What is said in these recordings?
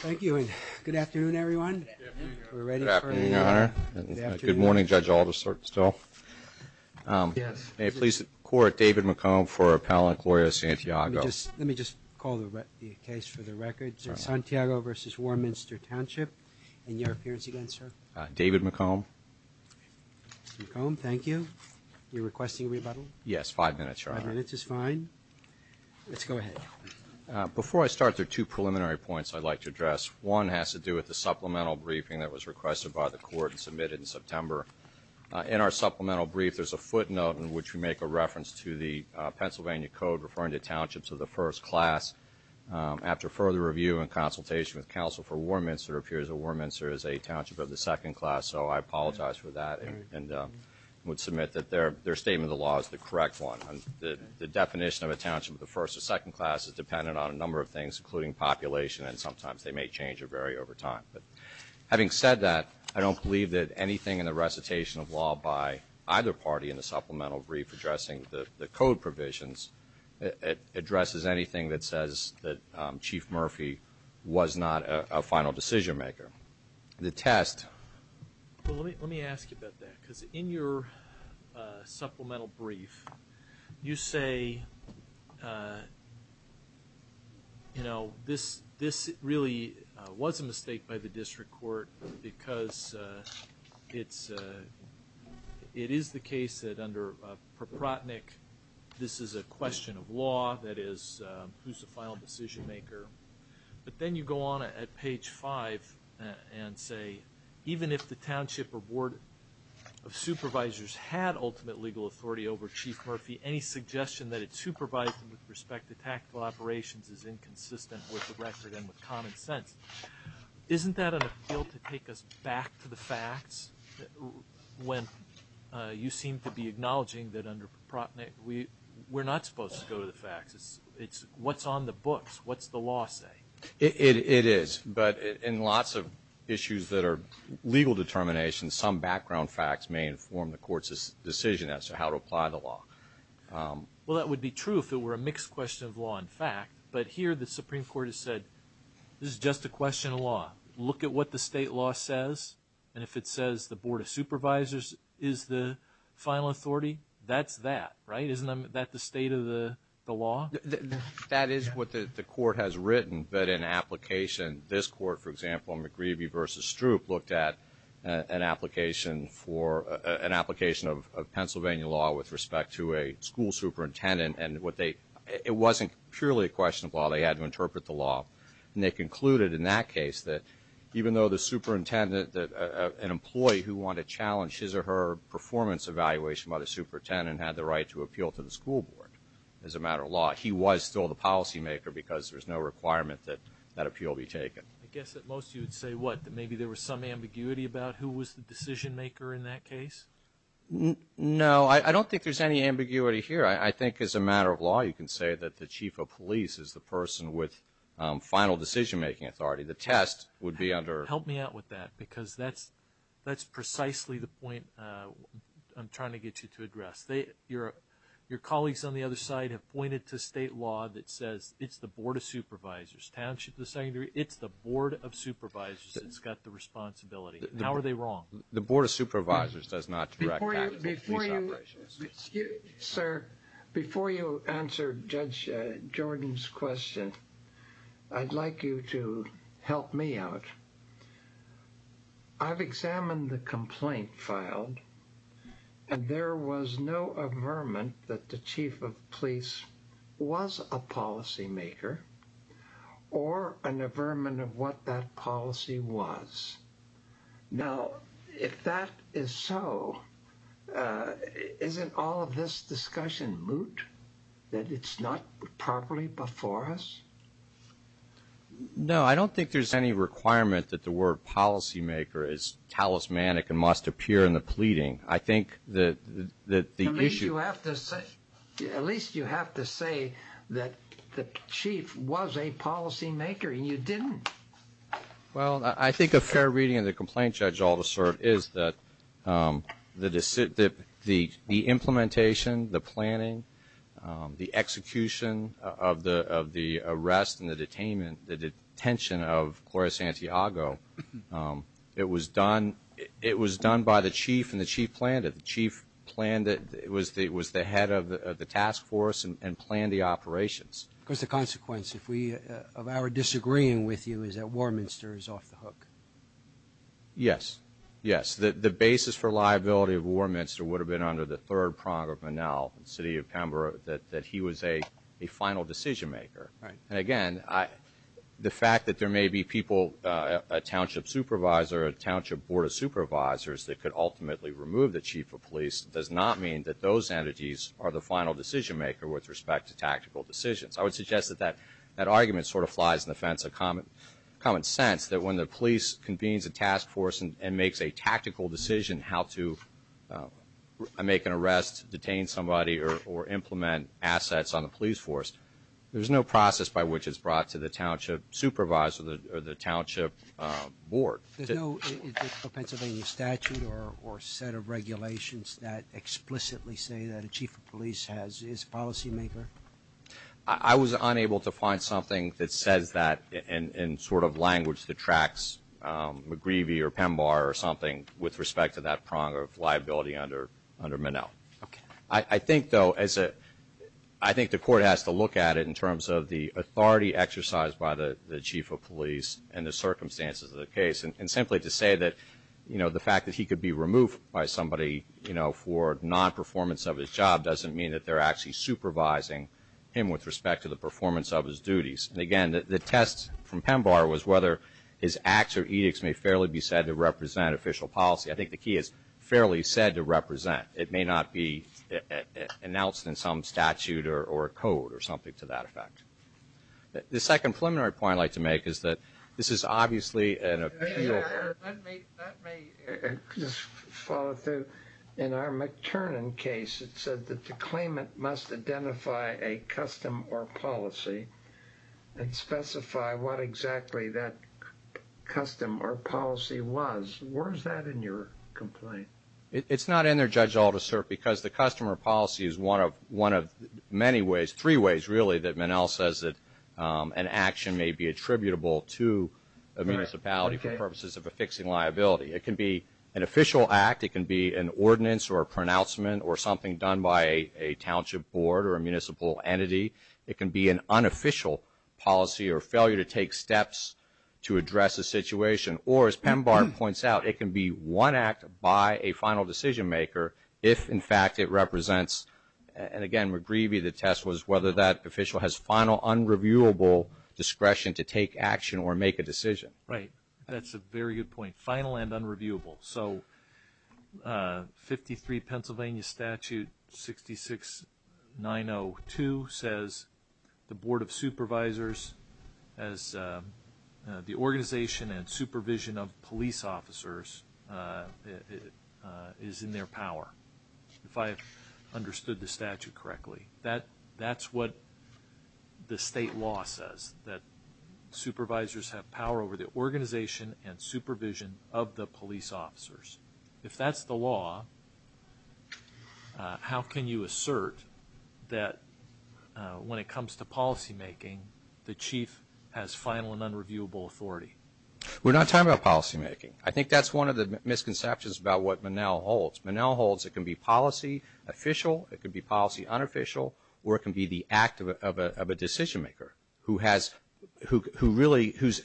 Thank you, and good afternoon, everyone. Good morning, Judge Aldersdorf. May it please the Court, David McComb for Appellant Gloria Santiago. Let me just call the case for the record. Sir, Santiago v. Warminster Township and your appearance again, sir. David McComb. McComb, thank you. You're requesting rebuttal? Yes, five minutes, Your Honor. Five minutes is fine. Let's go ahead. Before I start, there are two preliminary points I'd like to address. One has to do with the supplemental briefing that was requested by the Court and submitted in September. In our supplemental brief, there's a footnote in which we make a reference to the Pennsylvania Code referring to townships of the first class. After further review and consultation with counsel for Warminster, it appears that Warminster is a township of the second class, so I apologize for that and would submit that their statement of the law is the correct one. The definition of a township of the first or second class is dependent on a number of things, including population, and sometimes they may change or vary over time. But having said that, I don't believe that anything in the recitation of law by either party in the supplemental brief addressing the code provisions addresses anything that says that Chief Murphy was not a final decision maker. The test... Let me ask you about that, because in your supplemental brief, you say, you know, this really was a mistake by the District Court because it's... It is the case that under Proprotnick, this is a question of law, that is, who's the final decision maker. But then you go on at page five and say, even if the township or board of legal authority over Chief Murphy, any suggestion that it supervise them with respect to tactical operations is inconsistent with the record and with common sense. Isn't that an appeal to take us back to the facts? When you seem to be acknowledging that under Proprotnick, we're not supposed to go to the facts. It's what's on the books. What's the law say? It is, but in lots of issues that are legal determination, some background facts may inform the court's decision as to how to apply the law. Well, that would be true if it were a mixed question of law and fact, but here the Supreme Court has said, this is just a question of law. Look at what the state law says, and if it says the Board of Supervisors is the final authority, that's that, right? Isn't that the state of the law? That is what the court has written, that in application, this court, for example, McGreevy v. Stroop, looked at an application for, an application of Pennsylvania law with respect to a school superintendent, and what they, it wasn't purely a question of law. They had to interpret the law, and they concluded in that case that even though the superintendent, that an employee who wanted to challenge his or her performance evaluation by the superintendent had the right to appeal to the school board as a matter of law, he was still the policymaker because there's no requirement that that appeal be taken. I guess that most of you would say, what, that maybe there was some ambiguity about who was the decision-maker in that case? No, I don't think there's any ambiguity here. I think as a matter of law, you can say that the chief of police is the person with final decision-making authority. The test would be under... Help me out with that because that's, that's precisely the point I'm trying to get you to address. They, your, your colleagues on the other side have pointed to state law that says, it's, it's the Board of Supervisors, Township of the Secondary. It's the Board of Supervisors that's got the responsibility. How are they wrong? The Board of Supervisors does not direct that. Sir, before you answer Judge Jordan's question, I'd like you to help me out. I've examined the complaint filed, and there was no affirmment that the chief of police was a policymaker, or an affirmant of what that policy was. Now, if that is so, isn't all of this discussion moot, that it's not properly before us? No, I don't think there's any requirement that the word policymaker is talismanic and must appear in the pleading. I think that, that the issue... At least you have to say that the chief was a policymaker, and you didn't. Well, I think a fair reading of the complaint, Judge Aldersart, is that the decision, the, the implementation, the planning, the execution of the, of the arrest and the detainment, the detention of Gloria Santiago, it was done, it was done by the chief, and the chief planned it. The chief planned it. It was the, it was the head of the task force and planned the operations. Of course, the consequence, if we, of our disagreeing with you, is that Warminster is off the hook. Yes, yes. The, the basis for liability of Warminster would have been under the third prong of Manal, city of Pembroke, that, that he was a, a final decision maker. And again, I, the fact that there may be people, a township supervisor, a township board of supervisors, that could ultimately remove the chief of police does not mean that those entities are the final decision maker with respect to tactical decisions. I would suggest that that, that argument sort of flies in the fence of common, common sense, that when the police convenes a task force and, and makes a tactical decision how to make an arrest, detain somebody, or, or implement assets on the police force, there's no process by which it's brought to the township supervisor, the, the township board. There's no Pennsylvania statute or, or set of regulations that explicitly say that a chief of police has, is a policy maker? I was unable to find something that says that in, in sort of language that tracks McGreevy or Pembar or something with respect to that prong of liability under, under Manal. I think, though, as a, I think the court has to look at it in terms of the authority exercised by the, the chief of police and the circumstances of the case. And, and simply to say that, you know, the fact that he could be removed by somebody, you know, for non-performance of his job doesn't mean that they're actually supervising him with respect to the performance of his duties. And again, the, the test from Pembar was whether his acts or edicts may fairly be said to represent official policy. I think the key is fairly said to represent. It may not be announced in some statute or, or code or something to that effect. The second preliminary point I'd like to make is that this is obviously an appeal. Let me, let me just follow through. In our McTernan case, it said that the claimant must identify a custom or policy and specify what exactly that custom or policy was. Where's that in your complaint? It's not in there, Judge Aldersert, because the custom or policy is one of, one of many ways, three ways, really, that Minnell says that an action may be attributable to a municipality for purposes of affixing liability. It can be an official act. It can be an ordinance or a pronouncement or something done by a township board or a municipal entity. It can be an unofficial policy or failure to take steps to address a situation. Or, as Pembar points out, it can be one act by a final decision maker if, in fact, it represents, and again, McGreevy, the test was whether that official has final, unreviewable discretion to take action or make a decision. Right. That's a very good point. Final and unreviewable. So, 53 Pennsylvania Statute 66902 says the Board of Supervisors, as the organization and supervision of police officers, is in their power, if I have understood the statute correctly. That, that's what the state law says, that supervisors have power over the organization and supervision of the police officers. If that's the law, how can you assert that when it comes to policymaking, the chief has final and unreviewable authority? We're not talking about policymaking. I think that's one of the misconceptions about what Minnell holds. Minnell holds it can be policy, official, it could be policy, unofficial, or it can be the act of a decision maker who has, who really, whose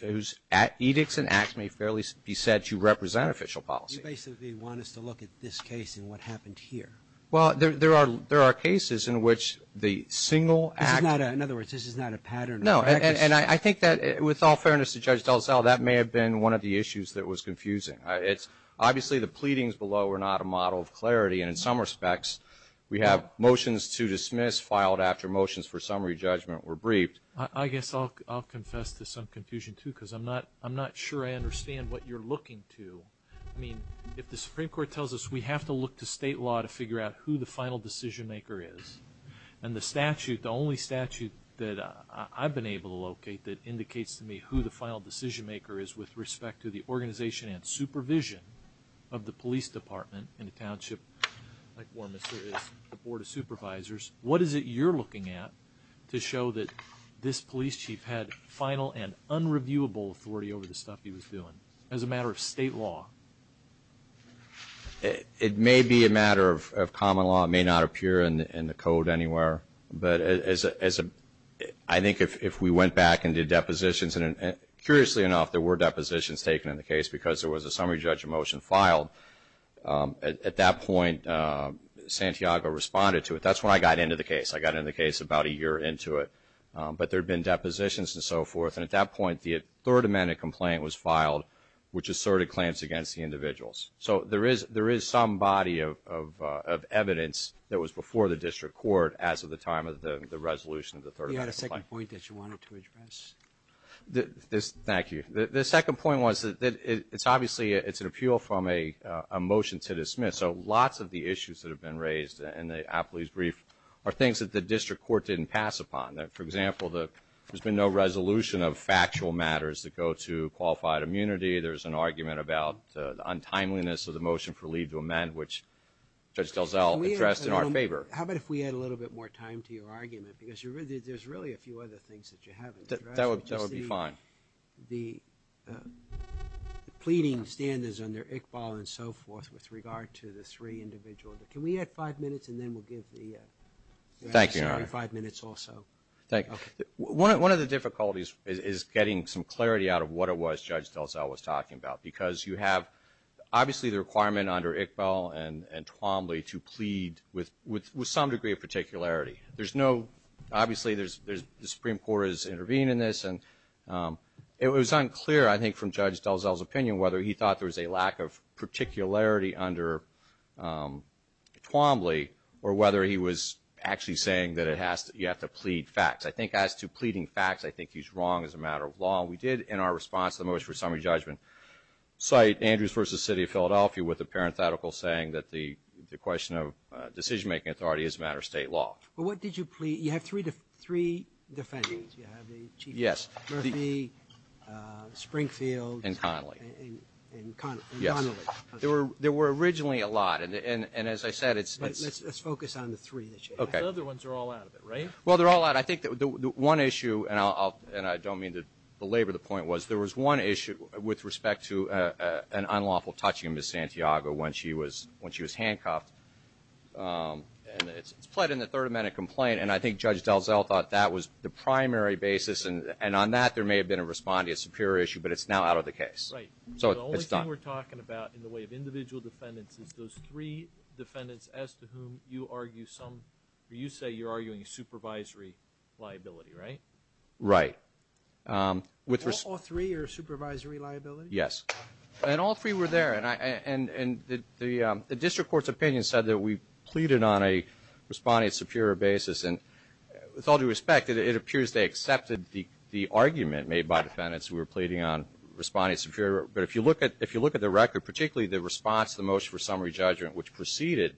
edicts and acts may fairly be said to represent official policy. You basically want us to look at this case and what happened here. Well, there are, there are cases in which the single act. This is not, in other words, this is not a pattern. No, and I think that, with all fairness to Judge Delisle, that may have been one of the issues that was confusing. It's, obviously, the pleadings below are not a model of clarity, and in some respects, we have motions to dismiss filed after motions for summary judgment were briefed. I guess I'll, I'll confess to some confusion, too, because I'm not, I'm not sure I understand what you're looking to. I mean, if the Supreme Court tells us we have to look to state law to figure out who the final decision maker is, and the statute, the only statute that I've been able to locate that indicates to me who the final decision maker is with respect to the organization and supervision of the police officers, and supervision of the police department in a township like Warmester is, the Board of Supervisors, what is it you're looking at to show that this police chief had final and unreviewable authority over the stuff he was doing, as a matter of state law? It may be a matter of common law. It may not appear in the code anywhere, but as a, I think if we went back and did depositions, and curiously enough, there were depositions taken in the case because there was a summary judgment motion filed, at that point, Santiago responded to it. That's when I got into the case. I got into the case about a year into it, but there had been depositions and so forth, and at that point, the Third Amendment complaint was filed, which asserted claims against the individuals. So, there is, there is some body of, of, of evidence that was before the district court as of the time of the resolution of the Third Amendment complaint. You had a second point that you wanted to address? Thank you. The, the second point was that it's obviously, it's an appeal from a, a motion to dismiss. So, lots of the issues that have been raised in the appellee's brief are things that the district court didn't pass upon. That, for example, the, there's been no resolution of factual matters that go to qualified immunity. There's an argument about the untimeliness of the motion for leave to amend, which Judge DelZell addressed in our favor. How about if we add a little bit more time to your argument, because you're really, there's really a few other things that you haven't addressed. That would, that would be fine. The, the pleading standards under Iqbal and so forth with regard to the three individuals. Can we add five minutes and then we'll give the. Thank you, Your Honor. Five minutes or so. Thank you. One, one of the difficulties is, is getting some clarity out of what it was Judge DelZell was talking about. Because you have, obviously the requirement under Iqbal and, and Twombly to plead with, with, with some degree of particularity. There's no, obviously there's, there's, the Supreme Court is intervening in this. And it was unclear, I think, from Judge DelZell's opinion, whether he thought there was a lack of particularity under Twombly. Or whether he was actually saying that it has to, you have to plead facts. I think as to pleading facts, I think he's wrong as a matter of law. We did, in our response to the motion for summary judgment, cite Andrews versus City of Philadelphia with a parenthetical saying that the, the question of decision making authority is a matter of state law. But what did you plead? You have three, three defendants. You have the Chief of, Murphy, Springfield, and Connolly. And, and Con, and Connolly. Yes. There were, there were originally a lot. And, and, and as I said, it's. But let's, let's focus on the three that you. Okay. The other ones are all out of it, right? Well, they're all out. I think that the, the one issue, and I'll, I'll, and I don't mean to belabor the point, was there was one issue with respect to an unlawful touching of Ms. Santiago when she was, when she was handcuffed. And it's, it's pled in the third amendment complaint. And I think Judge DelZell thought that was the primary basis. And, and on that, there may have been a respondeant superior issue, but it's now out of the case. Right. So, it's done. The only thing we're talking about in the way of individual defendants is those three defendants as to whom you argue some. You say you're arguing supervisory liability, right? Right. With. All three are supervisory liability? Yes. And all three were there. And I, and, and the, the district court's opinion said that we pleaded on a respondeant superior basis. With all due respect, it, it appears they accepted the, the argument made by defendants who were pleading on respondeant superior. But if you look at, if you look at the record, particularly the response to the motion for summary judgment, which preceded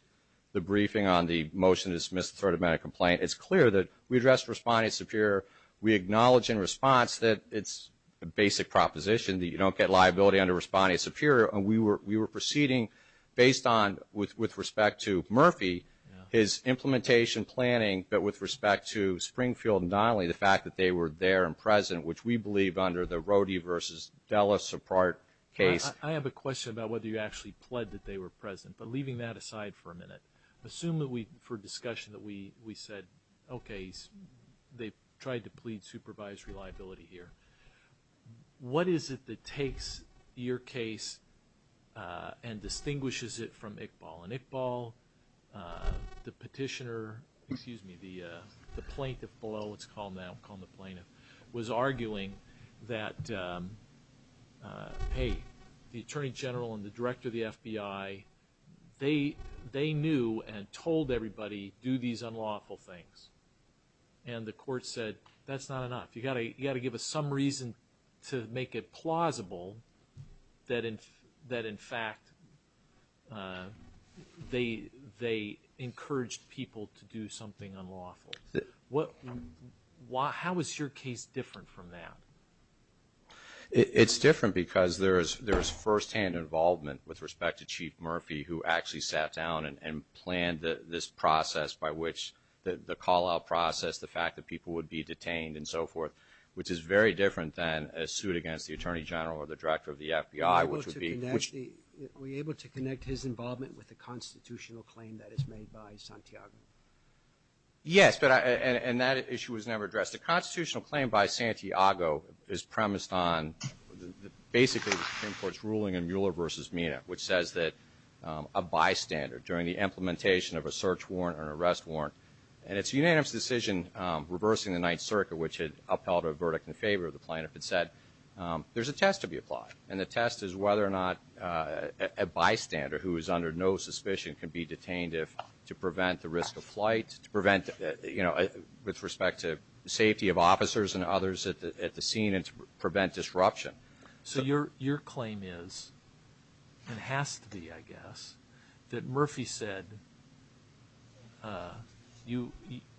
the briefing on the motion to dismiss the third amendment complaint, it's clear that we addressed respondeant superior. We acknowledge in response that it's a basic proposition that you don't get liability under respondeant superior. And we were, we were proceeding based on, with, with respect to Murphy, his implementation, planning, but with respect to Springfield and Donnelly, the fact that they were there and present, which we believe under the Rody versus Dulles support case. I have a question about whether you actually pled that they were present, but leaving that aside for a minute. Assume that we, for discussion, that we, we said, okay, they tried to plead supervisory liability here. What is it that takes your case and distinguishes it from Iqbal? And Iqbal, the petitioner, excuse me, the plaintiff below, let's call him that, we'll call him the plaintiff, was arguing that, hey, the attorney general and the director of the FBI, they, they knew and told everybody, do these unlawful things. And the court said, that's not enough. You gotta, you gotta give us some reason to make it plausible that in, that in fact, they, they encouraged people to do something unlawful. What, why, how is your case different from that? It, it's different because there is, there is first hand involvement with respect to Chief Murphy, who actually sat down and, and planned the, this process by which the, the call out process, the fact that people would be detained and so forth. Which is very different than a suit against the attorney general or the director of the FBI, which would be, which- Were you able to connect the, were you able to connect his involvement with the constitutional claim that is made by Santiago? Yes, but I, and, and that issue was never addressed. The constitutional claim by Santiago is premised on, basically, the Supreme Court's ruling in Mueller versus Mina, which says that a bystander, during the implementation of a search warrant or an arrest warrant, and it's unanimous decision reversing the Ninth Circuit, which had upheld a verdict in And the test is whether or not a, a bystander who is under no suspicion can be detained if, to prevent the risk of flight, to prevent, you know, with respect to safety of officers and others at the, at the scene, and to prevent disruption. So your, your claim is, and has to be, I guess, that Murphy said you,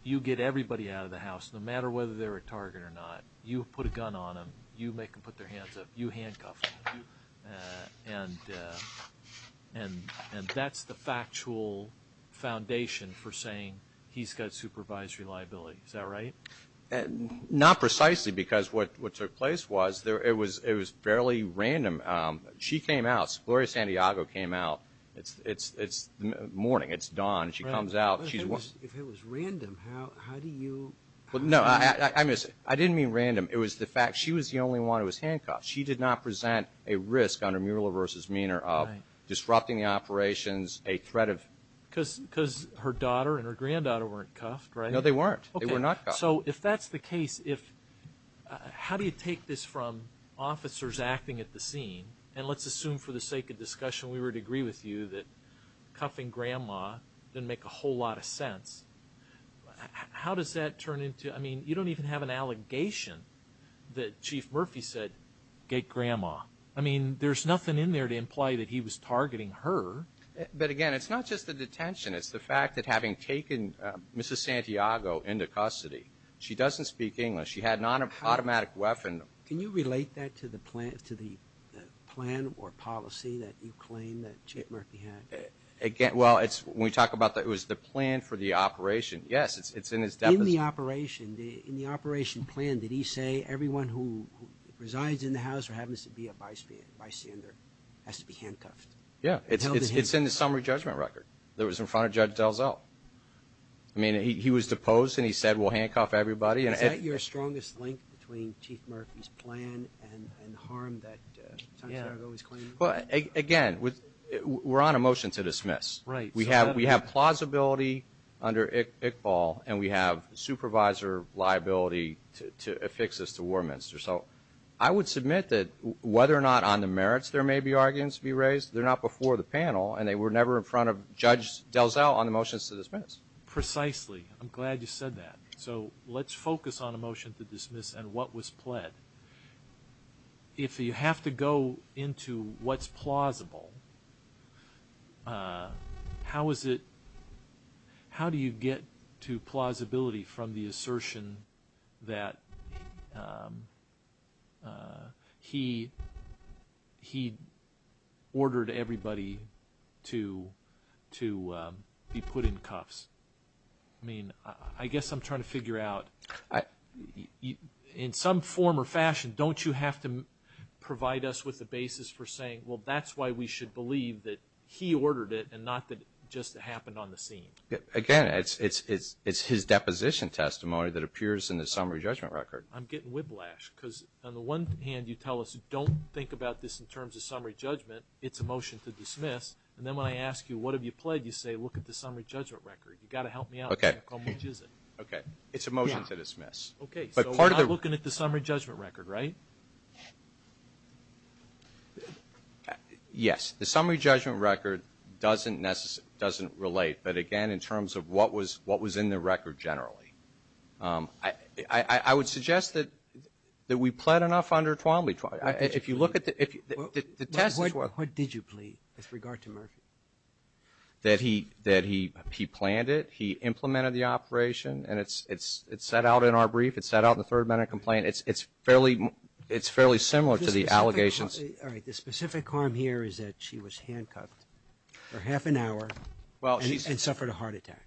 you get everybody out of the house, no matter whether they're a target or not. You put a gun on them, you make them put their hands up, you handcuff them. And, and, and that's the factual foundation for saying he's got supervisory liability, is that right? Not precisely, because what, what took place was there, it was, it was fairly random. She came out, Gloria Santiago came out, it's, it's, it's morning, it's dawn. She comes out, she's- If it was random, how, how do you- Well, no, I, I, I miss, I didn't mean random. It was the fact she was the only one who was handcuffed. She did not present a risk under Mueller v. Meaner of disrupting the operations, a threat of- Cuz, cuz her daughter and her granddaughter weren't cuffed, right? No, they weren't. They were not cuffed. So, if that's the case, if, how do you take this from officers acting at the scene? And let's assume for the sake of discussion, we would agree with you that cuffing grandma didn't make a whole lot of sense. How, how does that turn into, I mean, you don't even have an allegation that Chief Murphy said, get grandma. I mean, there's nothing in there to imply that he was targeting her. But again, it's not just the detention, it's the fact that having taken Mrs. Santiago into custody. She doesn't speak English, she had an automatic weapon. Can you relate that to the plan, to the plan or policy that you claim that Chief Murphy had? Again, well, it's, when we talk about the, it was the plan for the operation. Yes, it's, it's in his- In the operation, the, in the operation plan, did he say, everyone who resides in the house or happens to be a bystander has to be handcuffed? Yeah, it's, it's, it's in the summary judgment record. That was in front of Judge Delzell. I mean, he, he was deposed and he said, we'll handcuff everybody and- Is that your strongest link between Chief Murphy's plan and, and the harm that Santiago is claiming? Well, again, with, we're on a motion to dismiss. Right. We have, we have plausibility under Iqbal, and we have supervisor liability to, to affix this to Warminster. So, I would submit that whether or not on the merits there may be arguments to be raised, they're not before the panel, and they were never in front of Judge Delzell on the motions to dismiss. Precisely. I'm glad you said that. So, let's focus on a motion to dismiss and what was pled. If you have to go into what's plausible, how is it, how do you get to plausibility from the assertion that he, he ordered everybody to, to be put in cuffs? I mean, I, I guess I'm trying to figure out, I, you, in some form or fashion, don't you have to provide us with the basis for saying, well, that's why we should believe that he ordered it and not that it just happened on the scene? Again, it's, it's, it's, it's his deposition testimony that appears in the summary judgment record. I'm getting whiplash, because on the one hand, you tell us, don't think about this in terms of summary judgment. It's a motion to dismiss. And then when I ask you, what have you pled? You say, look at the summary judgment record. You gotta help me out. Okay. How much is it? Okay. It's a motion to dismiss. Okay, so. You're not looking at the summary judgment record, right? Yes, the summary judgment record doesn't necessarily, doesn't relate. But again, in terms of what was, what was in the record generally. I, I, I would suggest that, that we pled enough under Twombly. If you look at the, if you, the, the test is what. What did you plead with regard to Murphy? That he, that he, he planned it. He implemented the operation. And it's, it's, it's set out in our brief. It's set out in the third minute complaint. It's, it's fairly, it's fairly similar to the allegations. All right, the specific harm here is that she was handcuffed for half an hour and suffered a heart attack.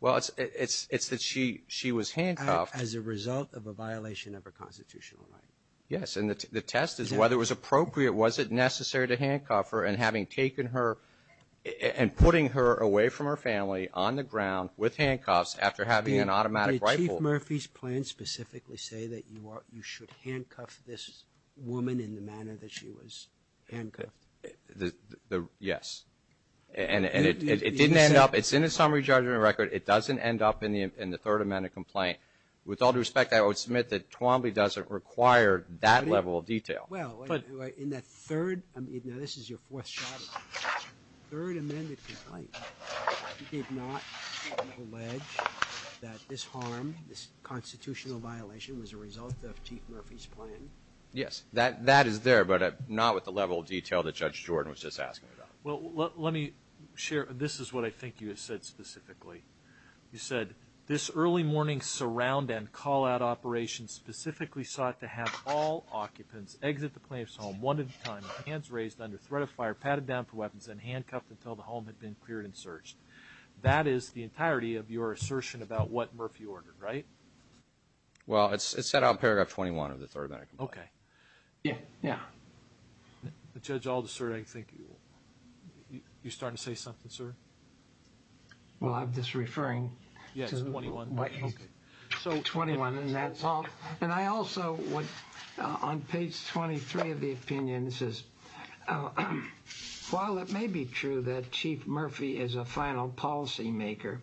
Well, it's, it's, it's that she, she was handcuffed. As a result of a violation of her constitutional right. Yes, and the test is whether it was appropriate, was it necessary to handcuff her and having taken her and putting her away from her family on the ground with handcuffs after having an automatic rifle. Did Chief Murphy's plan specifically say that you are, you should handcuff this woman in the manner that she was handcuffed? The, the, yes. And, and it, it, it didn't end up, it's in the summary judgment record. It doesn't end up in the, in the third amendment complaint. With all due respect, I would submit that Twombly doesn't require that level of detail. Well, in that third, I mean, now this is your fourth shot at this. Third amended complaint, did not allege that this harm, this constitutional violation was a result of Chief Murphy's plan? Yes, that, that is there, but not with the level of detail that Judge Jordan was just asking about. Well, let, let me share, this is what I think you have said specifically. You said, this early morning surround and call out operation specifically sought to have all occupants exit the plaintiff's home one at a time, hands raised under threat of fire, padded down for weapons, and handcuffed until the home had been cleared and searched. That is the entirety of your assertion about what Murphy ordered, right? Well, it's, it's set out in paragraph 21 of the third amendment complaint. Okay. Yeah. Yeah. Judge Aldous, sir, I think you, you, you're starting to say something, sir? Well, I'm just referring. Yeah, it's 21. Okay. So 21, and that's all. And I also would, on page 23 of the opinion, it says, while it may be true that Chief Murphy is a final policy maker,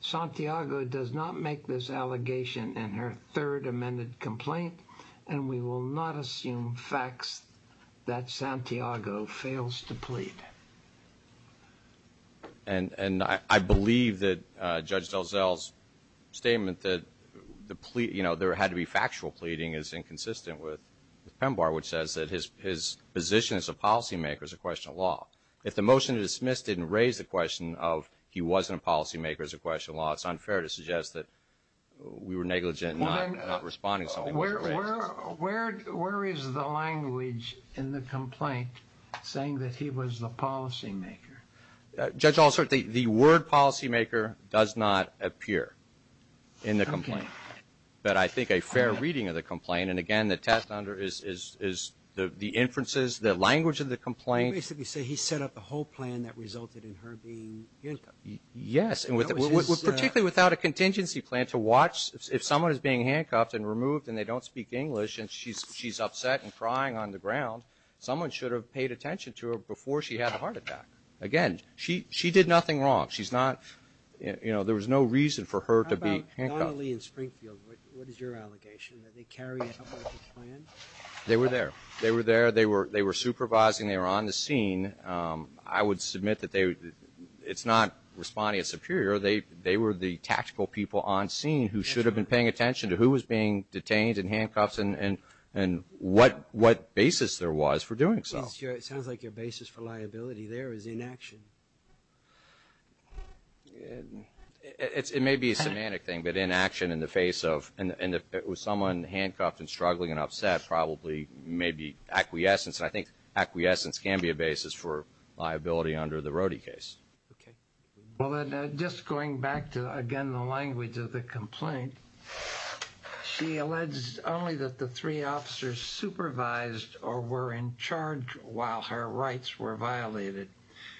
Santiago does not make this allegation in her third amended complaint. And we will not assume facts that Santiago fails to plead. And, and I, I believe that Judge DelZell's statement that the plea, you know, there had to be factual pleading is inconsistent with PEMBAR, which says that his, his position as a policy maker is a question of law. If the motion to dismiss didn't raise the question of he wasn't a policy maker as a question of law, it's unfair to suggest that we were negligent in not responding. Well then, where, where, where, where is the language in the complaint saying that he was the policy maker? Judge Aldous, sir, the, the word policy maker does not appear in the complaint. Okay. But I think a fair reading of the complaint, and again, the test under is, is, is the, the inferences, the language of the complaint. You basically say he set up the whole plan that resulted in her being handcuffed. Yes, and with, particularly without a contingency plan to watch if someone is being handcuffed and removed, and they don't speak English, and she's, she's upset and crying on the ground. Someone should have paid attention to her before she had a heart attack. Again, she, she did nothing wrong. She's not, you know, there was no reason for her to be handcuffed. How about Donnelly and Springfield? What is your allegation? That they carried out the plan? They were there. They were there. They were, they were supervising. They were on the scene. I would submit that they, it's not responding as superior. They, they were the tactical people on scene who should have been paying attention to who was being detained and handcuffed and, and, and what, what basis there was for doing so. It's your, it sounds like your basis for liability there is inaction. It's, it may be a semantic thing, but inaction in the face of, and, and if it was someone handcuffed and struggling and upset, probably maybe acquiescence. And I think acquiescence can be a basis for liability under the Rody case. Okay. Well, just going back to, again, the language of the complaint, she alleged only that the three officers supervised or were in charge while her rights were violated.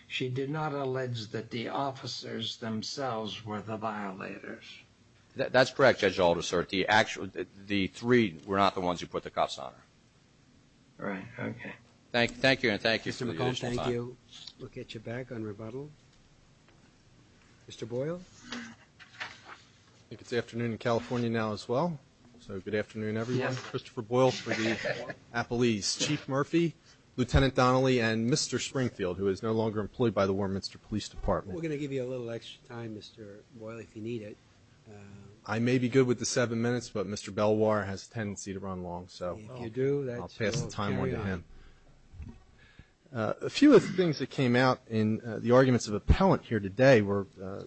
She did not allege that the officers themselves were the violators. That, that's correct, Judge Alder, sir. The actual, the three were not the ones who put the cuffs on her. Right, okay. Thank, thank you and thank you for the additional time. Mr. McCall, thank you. We'll get you back on rebuttal. Mr. Boyle? I think it's afternoon in California now as well. So good afternoon everyone. Christopher Boyle for the Appalese. Chief Murphy, Lieutenant Donnelly, and Mr. Springfield, who is no longer employed by the Warminster Police Department. We're going to give you a little extra time, Mr. Boyle, if you need it. I may be good with the seven minutes, but Mr. Belwar has a tendency to run long, so. If you do, that's. I'll pass the time on to him. A few of the things that came out in the arguments of appellant here today were a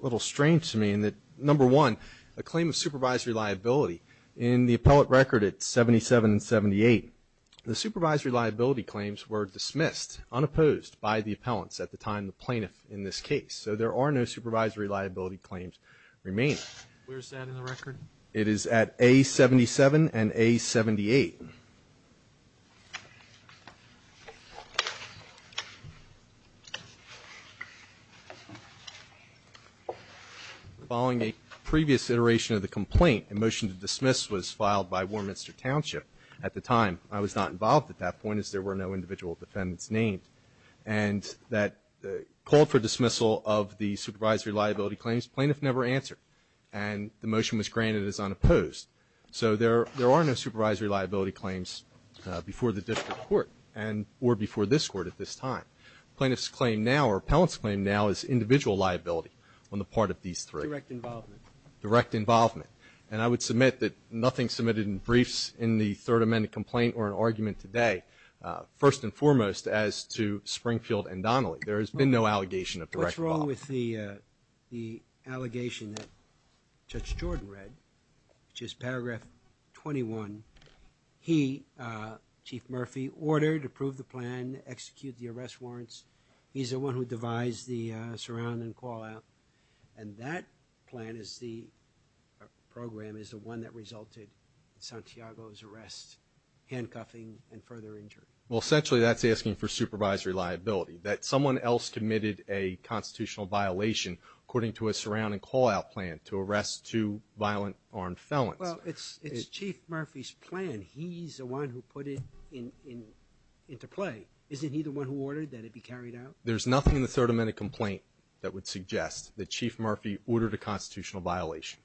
little strange to me in that, number one, a claim of supervisory liability. In the appellate record at 77 and 78, the supervisory liability claims were dismissed, unopposed, by the appellants at the time the plaintiff in this case. So there are no supervisory liability claims remaining. Where's that in the record? It is at A77 and A78. Following a previous iteration of the complaint, a motion to dismiss was filed by Warminster Township. At the time, I was not involved at that point, as there were no individual defendants named. And that called for dismissal of the supervisory liability claims. Plaintiff never answered. And the motion was granted as unopposed. So there, there are no supervisory liability claims before the district court. And, or before this court at this time. Plaintiff's claim now, or appellant's claim now is individual liability on the part of these three. Direct involvement. Direct involvement. And I would submit that nothing submitted in briefs in the third amendment complaint or in argument today. First and foremost, as to Springfield and Donnelly. There has been no allegation of direct involvement. What's wrong with the the allegation that Judge Jordan read? Which is paragraph 21. He Chief Murphy ordered, approved the plan, executed the arrest warrants. He's the one who devised the surround and call out. And that plan is the program is the one that resulted in Santiago's arrest, handcuffing, and further injury. Well, essentially, that's asking for supervisory liability. That someone else committed a constitutional violation, according to a surround and call out plan, to arrest two violent armed felons. Well, it's, it's Chief Murphy's plan. He's the one who put it in, in, into play. Isn't he the one who ordered that it be carried out? There's nothing in the third amendment complaint that would suggest that Chief Murphy ordered a constitutional violation.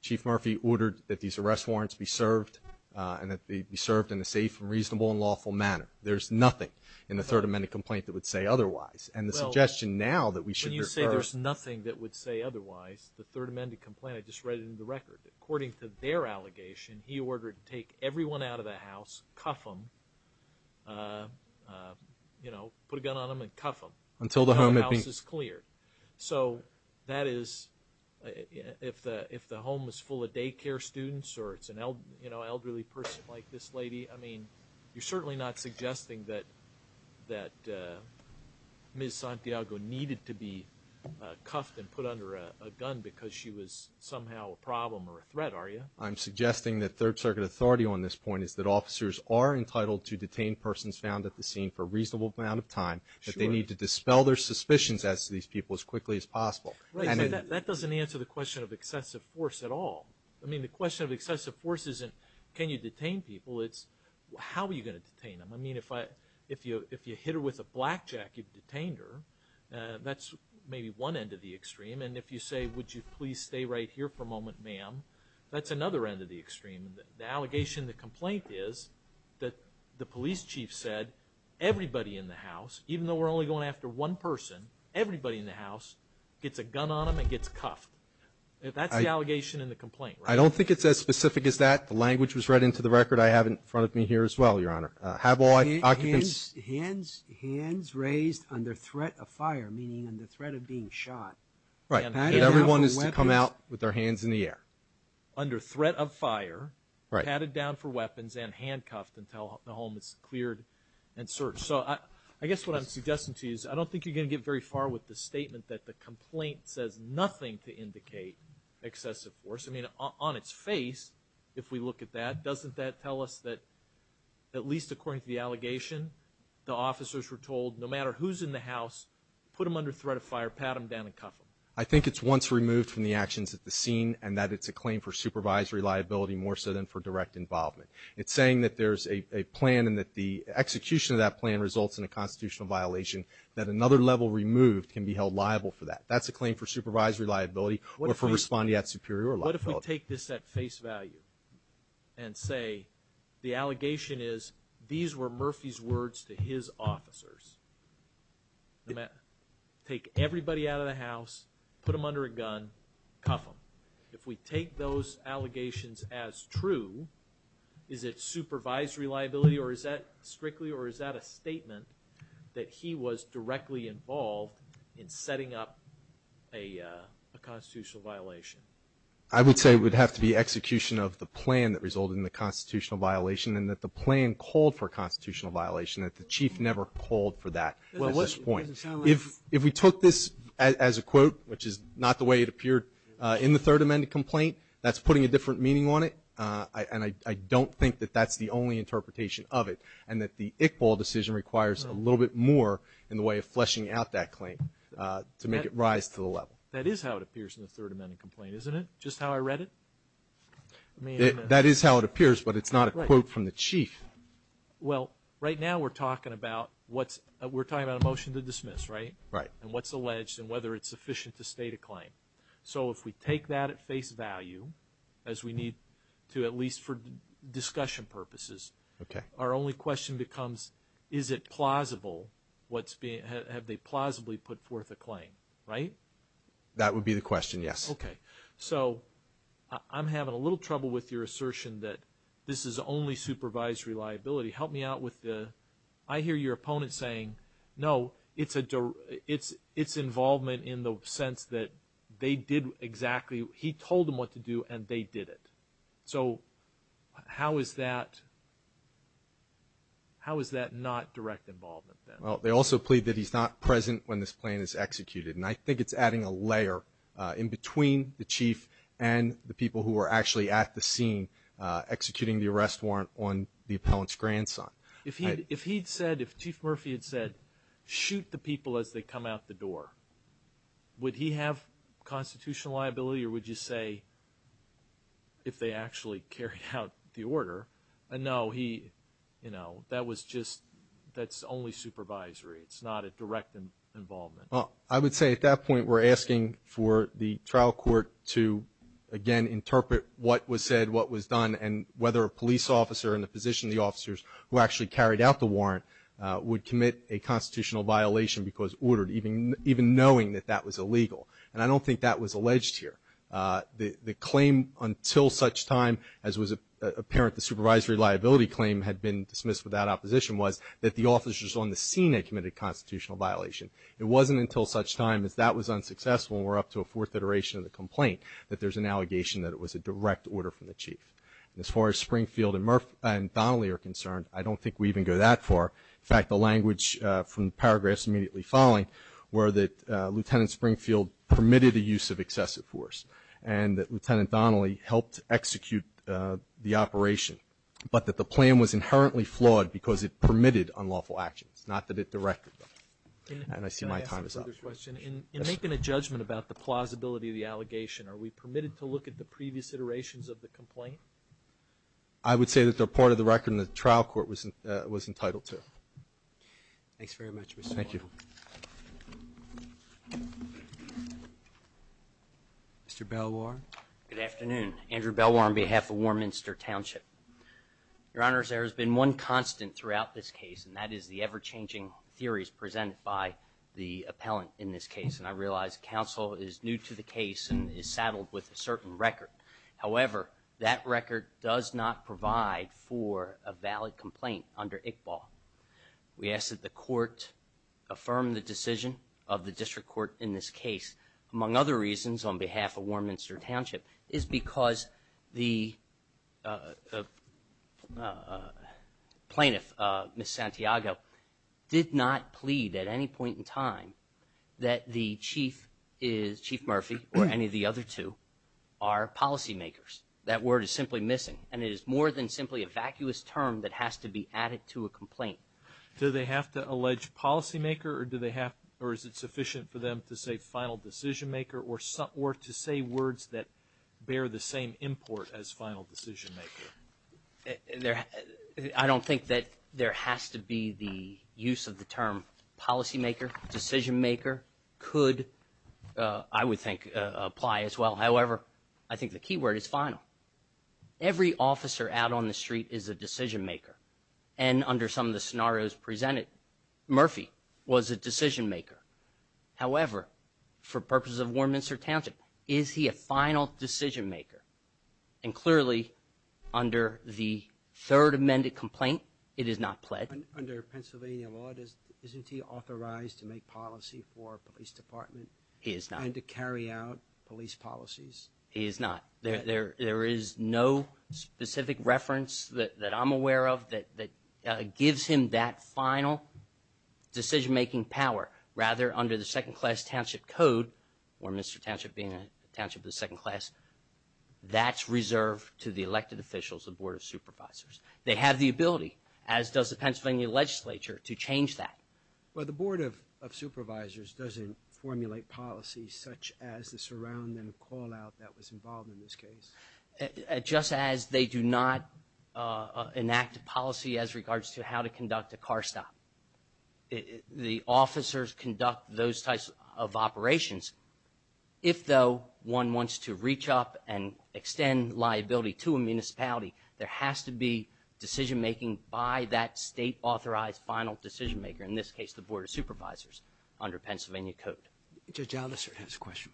Chief Murphy ordered that these arrest warrants be served and that they be served in a safe, reasonable, and lawful manner. There's nothing in the third amendment complaint that would say otherwise. And the suggestion now that we should. When you say there's nothing that would say otherwise, the third amendment complaint, I just read it in the record. According to their allegation, he ordered to take everyone out of the house, cuff them, you know, put a gun on them and cuff them. Until the home had been. Until the house is cleared. So, that is, if the, if the home is full of daycare students or it's an el, you know, elderly person like this lady, I mean, you're certainly not suggesting that, that Ms. Santiago needed to be cuffed and put under a, a gun because she was somehow a problem or a threat, are you? I'm suggesting that third circuit authority on this point is that officers are entitled to detain persons found at the scene for a reasonable amount of time, that they need to dispel their suspicions as to these people as quickly as possible. And. That doesn't answer the question of excessive force at all. I mean, the question of excessive force isn't, can you detain people? It's, how are you going to detain them? I mean, if I, if you, if you hit her with a blackjack, you've detained her. That's maybe one end of the extreme. And if you say, would you please stay right here for a moment, ma'am? That's another end of the extreme. The allegation, the complaint is that the police chief said everybody in the house, even though we're only going after one person, everybody in the house gets a gun on them and gets cuffed. That's the allegation in the complaint, right? I don't think it's as specific as that. The language was read into the record. I have it in front of me here as well, your honor. Have all occupants. Hands, hands raised under threat of fire, meaning under threat of being shot. Right. And everyone is to come out with their hands in the air. Under threat of fire. Right. Patted down for weapons and handcuffed until the home is cleared and searched. So I, I guess what I'm suggesting to you is I don't think you're going to get very far with the statement that the complaint says nothing to indicate excessive force. I mean, on, on its face, if we look at that, doesn't that tell us that, at least according to the allegation, the officers were told, no matter who's in the house, put them under threat of fire, pat them down and cuff them. I think it's once removed from the actions at the scene and that it's a claim for supervisory liability more so than for direct involvement. It's saying that there's a, a plan and that the execution of that plan results in a constitutional violation, that another level removed can be held liable for that. That's a claim for supervisory liability, or for responding at superior liability. What if we take this at face value and say, the allegation is, these were Murphy's words to his officers. No matter, take everybody out of the house, put them under a gun, cuff them. If we take those allegations as true, is it supervisory liability or is that strictly or is that a statement that he was directly involved in setting up a a constitutional violation? I would say it would have to be execution of the plan that resulted in the constitutional violation and that the plan called for a constitutional violation. That the chief never called for that at this point. If, if we took this as a quote, which is not the way it appeared in the third amendment complaint, that's putting a different meaning on it. And I, I don't think that that's the only interpretation of it. And that the Iqbal decision requires a little bit more in the way of fleshing out that claim to make it rise to the level. That is how it appears in the third amendment complaint, isn't it? Just how I read it? That is how it appears, but it's not a quote from the chief. Well, right now we're talking about what's, we're talking about a motion to dismiss, right? Right. And what's alleged and whether it's sufficient to state a claim. So if we take that at face value, as we need to at least for discussion purposes. Okay. Our only question becomes, is it plausible what's being, have they plausibly put forth a claim, right? That would be the question, yes. Okay. So, I'm having a little trouble with your assertion that this is only supervised reliability. Help me out with the, I hear your opponent saying, no, it's a, it's, it's involvement in the sense that they did exactly, he told them what to do and they did it. So, how is that, how is that not direct involvement then? Well, they also plead that he's not present when this plan is executed. And I think it's adding a layer in between the chief and the people who are actually at the scene executing the arrest warrant on the appellant's grandson. If he'd, if he'd said, if Chief Murphy had said, shoot the people as they come out the door, would he have constitutional liability or would you say if they actually carried out the order? No, he, you know, that was just, that's only supervisory. It's not a direct involvement. Well, I would say at that point we're asking for the trial court to again interpret what was said, what was done, and whether a police officer in the position of the officers who actually carried out the warrant would commit a constitutional violation because ordered, even, even knowing that that was illegal. And I don't think that was alleged here. The, the claim until such time as was apparent, the supervisory liability claim had been dismissed without opposition, was that the officers on the scene had committed a constitutional violation. It wasn't until such time as that was unsuccessful and we're up to a fourth iteration of the complaint, that there's an allegation that it was a direct order from the chief. As far as Springfield and Murph, and Donnelly are concerned, I don't think we even go that far. In fact, the language from the paragraphs immediately following were that Lieutenant Springfield permitted the use of excessive force. And that Lieutenant Donnelly helped execute the operation, but that the plan was inherently flawed because it permitted unlawful actions, not that it directed them. And I see my time is up. I have a question. In, in making a judgment about the plausibility of the allegation, are we permitted to look at the previous iterations of the complaint? I would say that they're part of the record and the trial court was, was entitled to. Thanks very much, Mr. Warren. Thank you. Mr. Belwar. Good afternoon. Andrew Belwar on behalf of Warminster Township. Your Honor, there has been one constant throughout this case, and the appellant in this case. And I realize counsel is new to the case and is saddled with a certain record. However, that record does not provide for a valid complaint under Iqbal. We ask that the court affirm the decision of the district court in this case. Among other reasons, on behalf of Warminster Township, is because the the chief is, Chief Murphy, or any of the other two, are policy makers. That word is simply missing, and it is more than simply a vacuous term that has to be added to a complaint. Do they have to allege policy maker, or do they have, or is it sufficient for them to say final decision maker, or some, or to say words that bear the same import as final decision maker? There, I don't think that there has to be the use of the term policy maker. Decision maker could, I would think, apply as well. However, I think the key word is final. Every officer out on the street is a decision maker. And under some of the scenarios presented, Murphy was a decision maker. However, for purposes of Warminster Township, is he a final decision maker? And clearly, under the third amended complaint, it is not pledged. Under Pennsylvania law, isn't he authorized to make policy for a police department? He is not. And to carry out police policies? He is not. There is no specific reference that I'm aware of that gives him that final decision making power. Rather, under the second class township code, or Mr. Township being a township of the second class, that's reserved to the elected officials, the board of supervisors. They have the ability, as does the Pennsylvania legislature, to change that. But the board of supervisors doesn't formulate policies such as the surround and call out that was involved in this case. Just as they do not enact a policy as regards to how to conduct a car stop. The officers conduct those types of operations. If, though, one wants to reach up and extend liability to a municipality, there has to be decision making by that state authorized final decision maker. In this case, the board of supervisors under Pennsylvania code. Judge Allister has a question.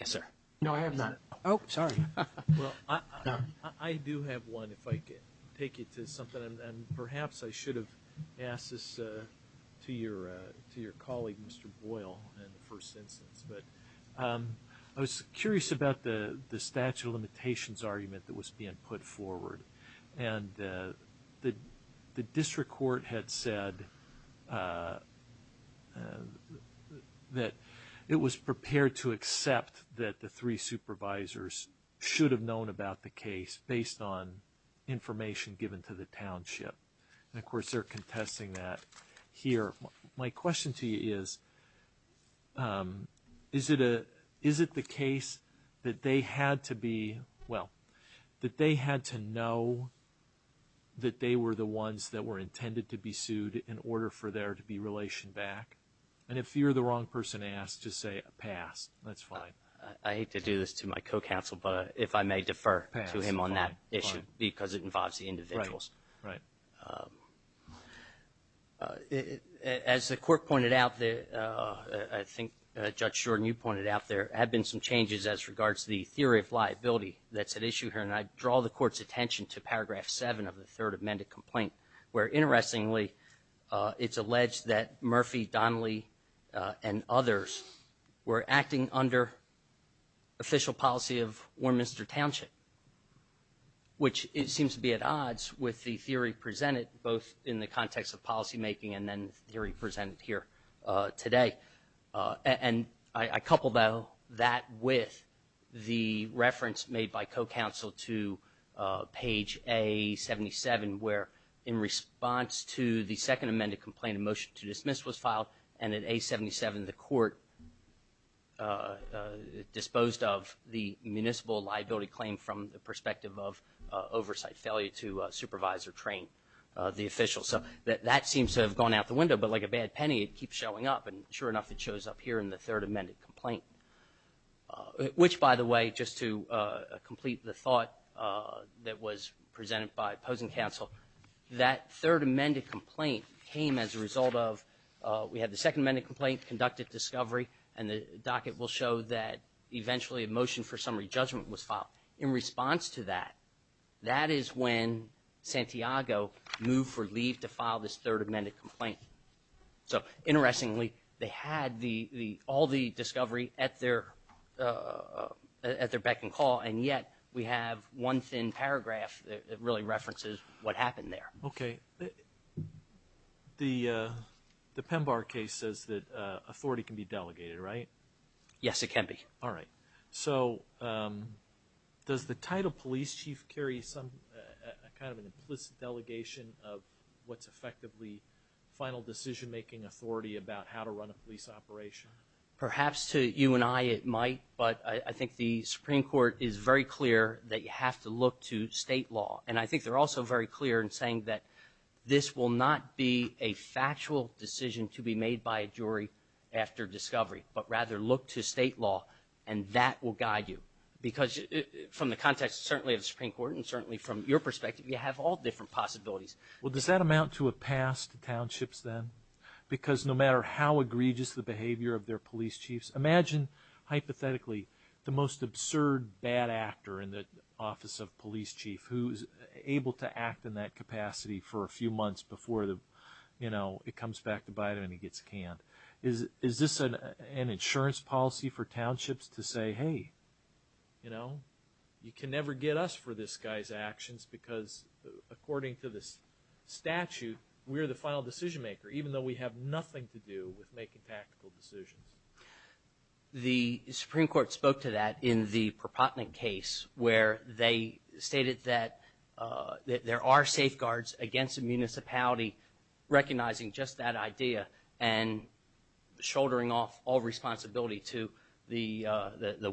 Yes, sir. No, I have not. Oh, sorry. Well, I do have one, if I could take it to something, and perhaps I should have asked this to your colleague, Mr. Boyle, in the first instance. But I was curious about the statute of limitations argument that was being put forward. And the district court had said that it was prepared to accept that the three supervisors should have known about the case based on information given to the township. And of course, they're contesting that here. My question to you is, is it the case that they had to be, well, that they had to know that they were the ones that were intended to be sued in order for there to be relation back? And if you're the wrong person to ask, just say, pass. That's fine. I hate to do this to my co-counsel, but if I may defer to him on that issue, because it involves the individuals. Right. As the court pointed out, I think Judge Jordan, you pointed out, there have been some changes as regards to the theory of liability that's at issue here. And I draw the court's attention to paragraph 7 of the third amended complaint, where, interestingly, it's alleged that Murphy, Donnelly, and others were acting under official policy of Warminster Township, which it seems to be at odds with the theory presented, both in the context of policymaking and then the theory presented here today. And I couple that with the reference made by co-counsel to page A77, where, in response to the second amended complaint, a motion to dismiss was filed, and at A77, the court disposed of the municipal liability claim from the perspective of oversight failure to supervise or train the official. So that seems to have gone out the window, but like a bad penny, it keeps showing up. And sure enough, it shows up here in the third amended complaint, which, by the way, just to complete the thought that was presented by opposing counsel, that third amended complaint came as a result of we had the second amended complaint conducted discovery, and the docket will show that eventually a motion for summary judgment was filed. In response to that, that is when Santiago moved for leave to file this third amended complaint. So interestingly, they had all the discovery at their beck and call, and yet we have one thin paragraph that really references what happened there. OK. The PEMBAR case says that authority can be delegated, right? Yes, it can be. All right. So does the title police chief carry some kind of an implicit delegation of what's effectively final decision-making authority about how to run a police operation? Perhaps to you and I it might, but I think the Supreme Court is very clear that you have to look to state law. And I think they're also very clear in saying that this will not be a factual decision to be made by a jury after discovery, but rather look to state law, and that will guide you. Because from the context, certainly, of the Supreme Court, and certainly from your perspective, you have all different possibilities. Well, does that amount to a pass to townships then? Because no matter how egregious the behavior of their police chiefs, imagine, hypothetically, the most absurd bad actor in the office of police chief who is able to act in that capacity for a few months before it comes back to bite him and he gets canned. Is this an insurance policy for townships to say, hey, you can never get us for this guy's actions, because according to this statute, we're the final decision-maker, even though we have nothing to do with making tactical decisions. The Supreme Court spoke to that in the Perpotnick case, where they stated that there are safeguards against a municipality recognizing just that idea and shouldering off all responsibility to the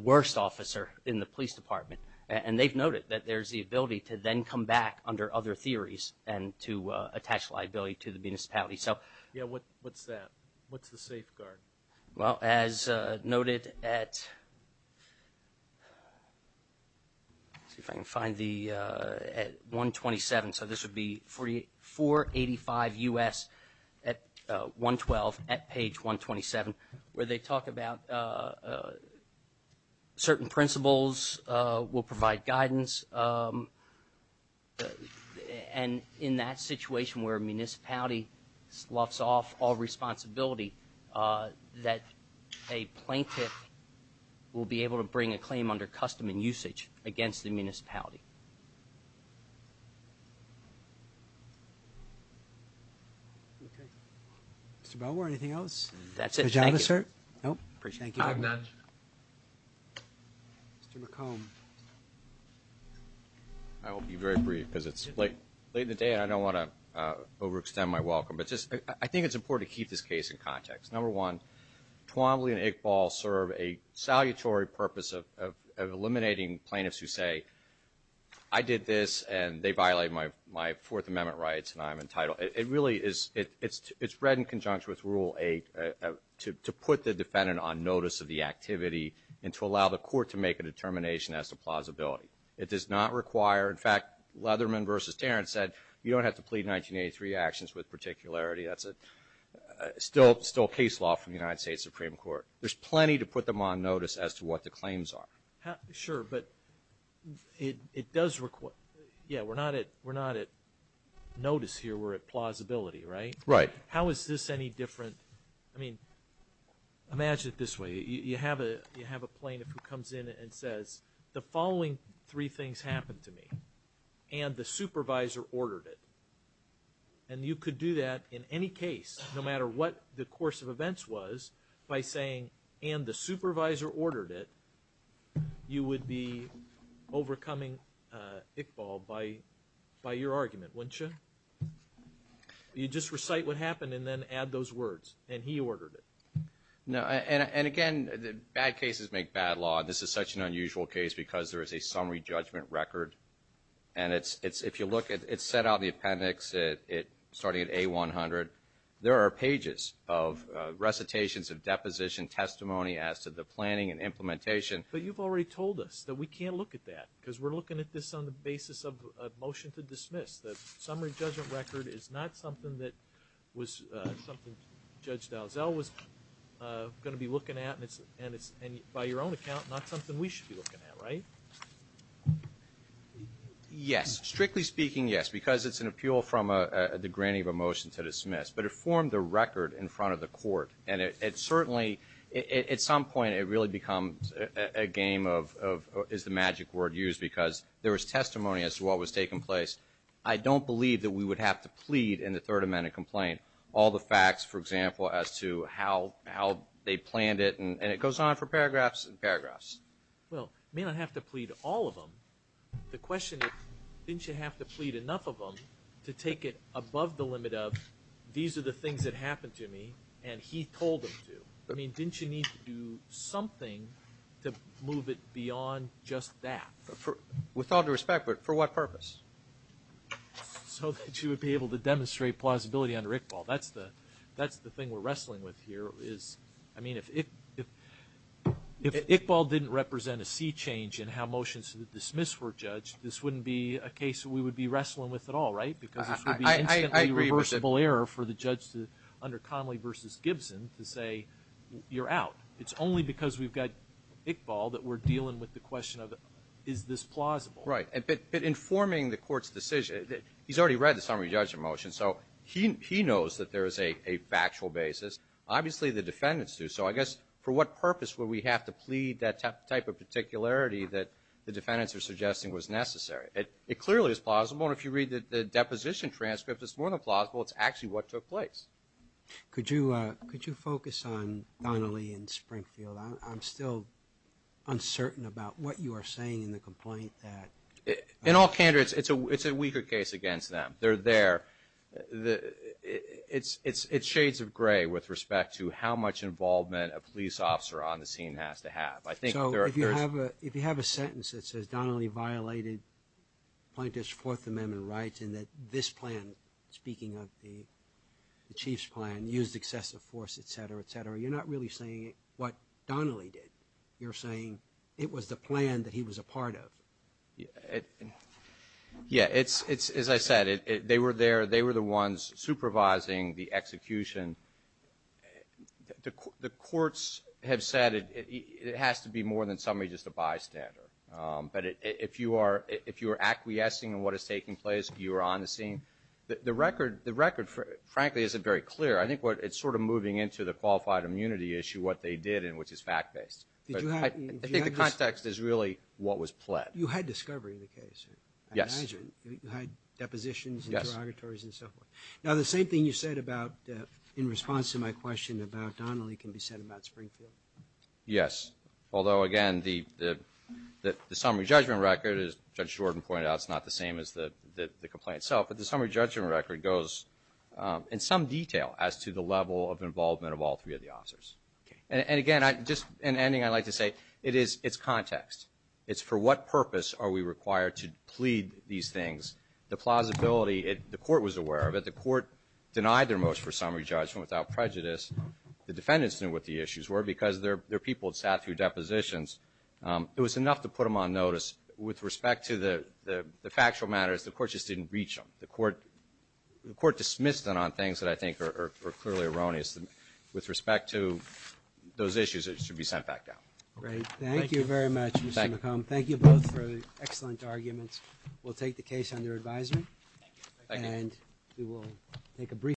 worst officer in the police department. And they've noted that there's the ability to then come back under other theories and to attach liability to the municipality. So, yeah, what's that? What's the safeguard? Well, as noted at, let's see if I can find the, at 127. So this would be 485 U.S. at 112 at page 127, where they talk about certain principles will provide guidance. And in that situation where a municipality sloughs off all responsibility, that a plaintiff will be able to bring a claim under custom and usage against the municipality. Okay. Mr. Belwar, anything else? That's it. Thank you. No, I'm done. Mr. McComb. I will be very brief because it's late in the day and I don't want to overextend my welcome. But just, I think it's important to keep this case in context. Number one, Twombly and Iqbal serve a salutary purpose of eliminating plaintiffs who say, I did this and they violate my Fourth Amendment rights and I'm entitled. It really is, it's read in conjunction with Rule 8 to put the defendant on notice of the activity and to allow the court to make a determination as to plausibility. It does not require, in fact, Leatherman versus Terrence said, you don't have to plead 1983 actions with particularity. That's still case law from the United States Supreme Court. There's plenty to put them on notice as to what the claims are. Sure, but it does require, yeah, we're not at notice here. We're at plausibility, right? Right. How is this any different? I mean, imagine it this way. You have a plaintiff who comes in and says, the following three things happened to me, and the supervisor ordered it. And you could do that in any case, no matter what the course of events was, by saying, and the supervisor ordered it, you would be overcoming Iqbal by your argument, wouldn't you? You just recite what happened and then add those words, and he ordered it. No, and again, bad cases make bad law. This is such an unusual case because there is a summary judgment record. And if you look, it's set out in the appendix starting at A100. There are pages of recitations of deposition testimony as to the planning and implementation. But you've already told us that we can't look at that because we're looking at this on the basis of a motion to dismiss. The summary judgment record is not something that Judge Dalziel was going to be looking at, and by your own account, not something we should be looking at, right? Yes. Strictly speaking, yes, because it's an appeal from the granting of a motion to dismiss. But it formed the record in front of the court. And it certainly, at some point, it really becomes a game of, is the magic word used? Because there was testimony as to what was taking place. I don't believe that we would have to plead in the Third Amendment complaint all the facts, for example, as to how they planned it. And it goes on for paragraphs and paragraphs. Well, you may not have to plead all of them. The question is, didn't you have to plead enough of them to take it above the limit of, these are the things that happened to me, and he told him to? I mean, didn't you need to do something to move it beyond just that? With all due respect, but for what purpose? So that you would be able to demonstrate plausibility under Iqbal. That's the thing we're wrestling with here, is, I mean, if Iqbal didn't represent a sea change in how motions to dismiss were judged, this wouldn't be a case we would be wrestling with at all, right? Because this would be an irreversible error for the judge under Connolly versus Gibson to say, you're out. It's only because we've got Iqbal that we're dealing with the question of, is this plausible? Right. But informing the court's decision, he's already read the summary judgment motion, so he knows that there is a factual basis. Obviously, the defendants do. So I guess, for what purpose would we have to plead that type of particularity that the defendants are suggesting was necessary? It clearly is plausible, and if you read the deposition transcript, it's more than plausible. It's actually what took place. Could you focus on Donnelly and Springfield? I'm still uncertain about what you are saying in the complaint that- In all candor, it's a weaker case against them. They're there. It's shades of gray with respect to how much involvement a police officer on the scene has to have. I think there is- If you have a sentence that says Donnelly violated plaintiff's amendment rights, and that this plan, speaking of the chief's plan, used excessive force, et cetera, et cetera, you're not really saying what Donnelly did. You're saying it was the plan that he was a part of. Yeah, as I said, they were there. They were the ones supervising the execution. The courts have said it has to be more than somebody just a bystander. But if you are acquiescing in what is taking place, you are on the scene, the record, frankly, isn't very clear. I think it's sort of moving into the qualified immunity issue, what they did, and which is fact-based. I think the context is really what was pled. You had discovery in the case. Yes. You had depositions and interrogatories and so forth. Now, the same thing you said in response to my question about Donnelly can be said about Springfield. Yes. Although, again, the summary judgment record, as Judge Jordan pointed out, is not the same as the complaint itself. But the summary judgment record goes in some detail as to the level of involvement of all three of the officers. And again, just in ending, I'd like to say it's context. It's for what purpose are we required to plead these things. The plausibility, the court was aware of it. The court denied their most for summary judgment without prejudice. The defendants knew what the issues were because their people had sat through depositions. It was enough to put them on notice. With respect to the factual matters, the court just didn't reach them. The court dismissed them on things that I think are clearly erroneous. With respect to those issues, it should be sent back down. Great. Thank you very much, Mr. McComb. Thank you both for the excellent arguments. We'll take the case under advisement. And we will take a brief break.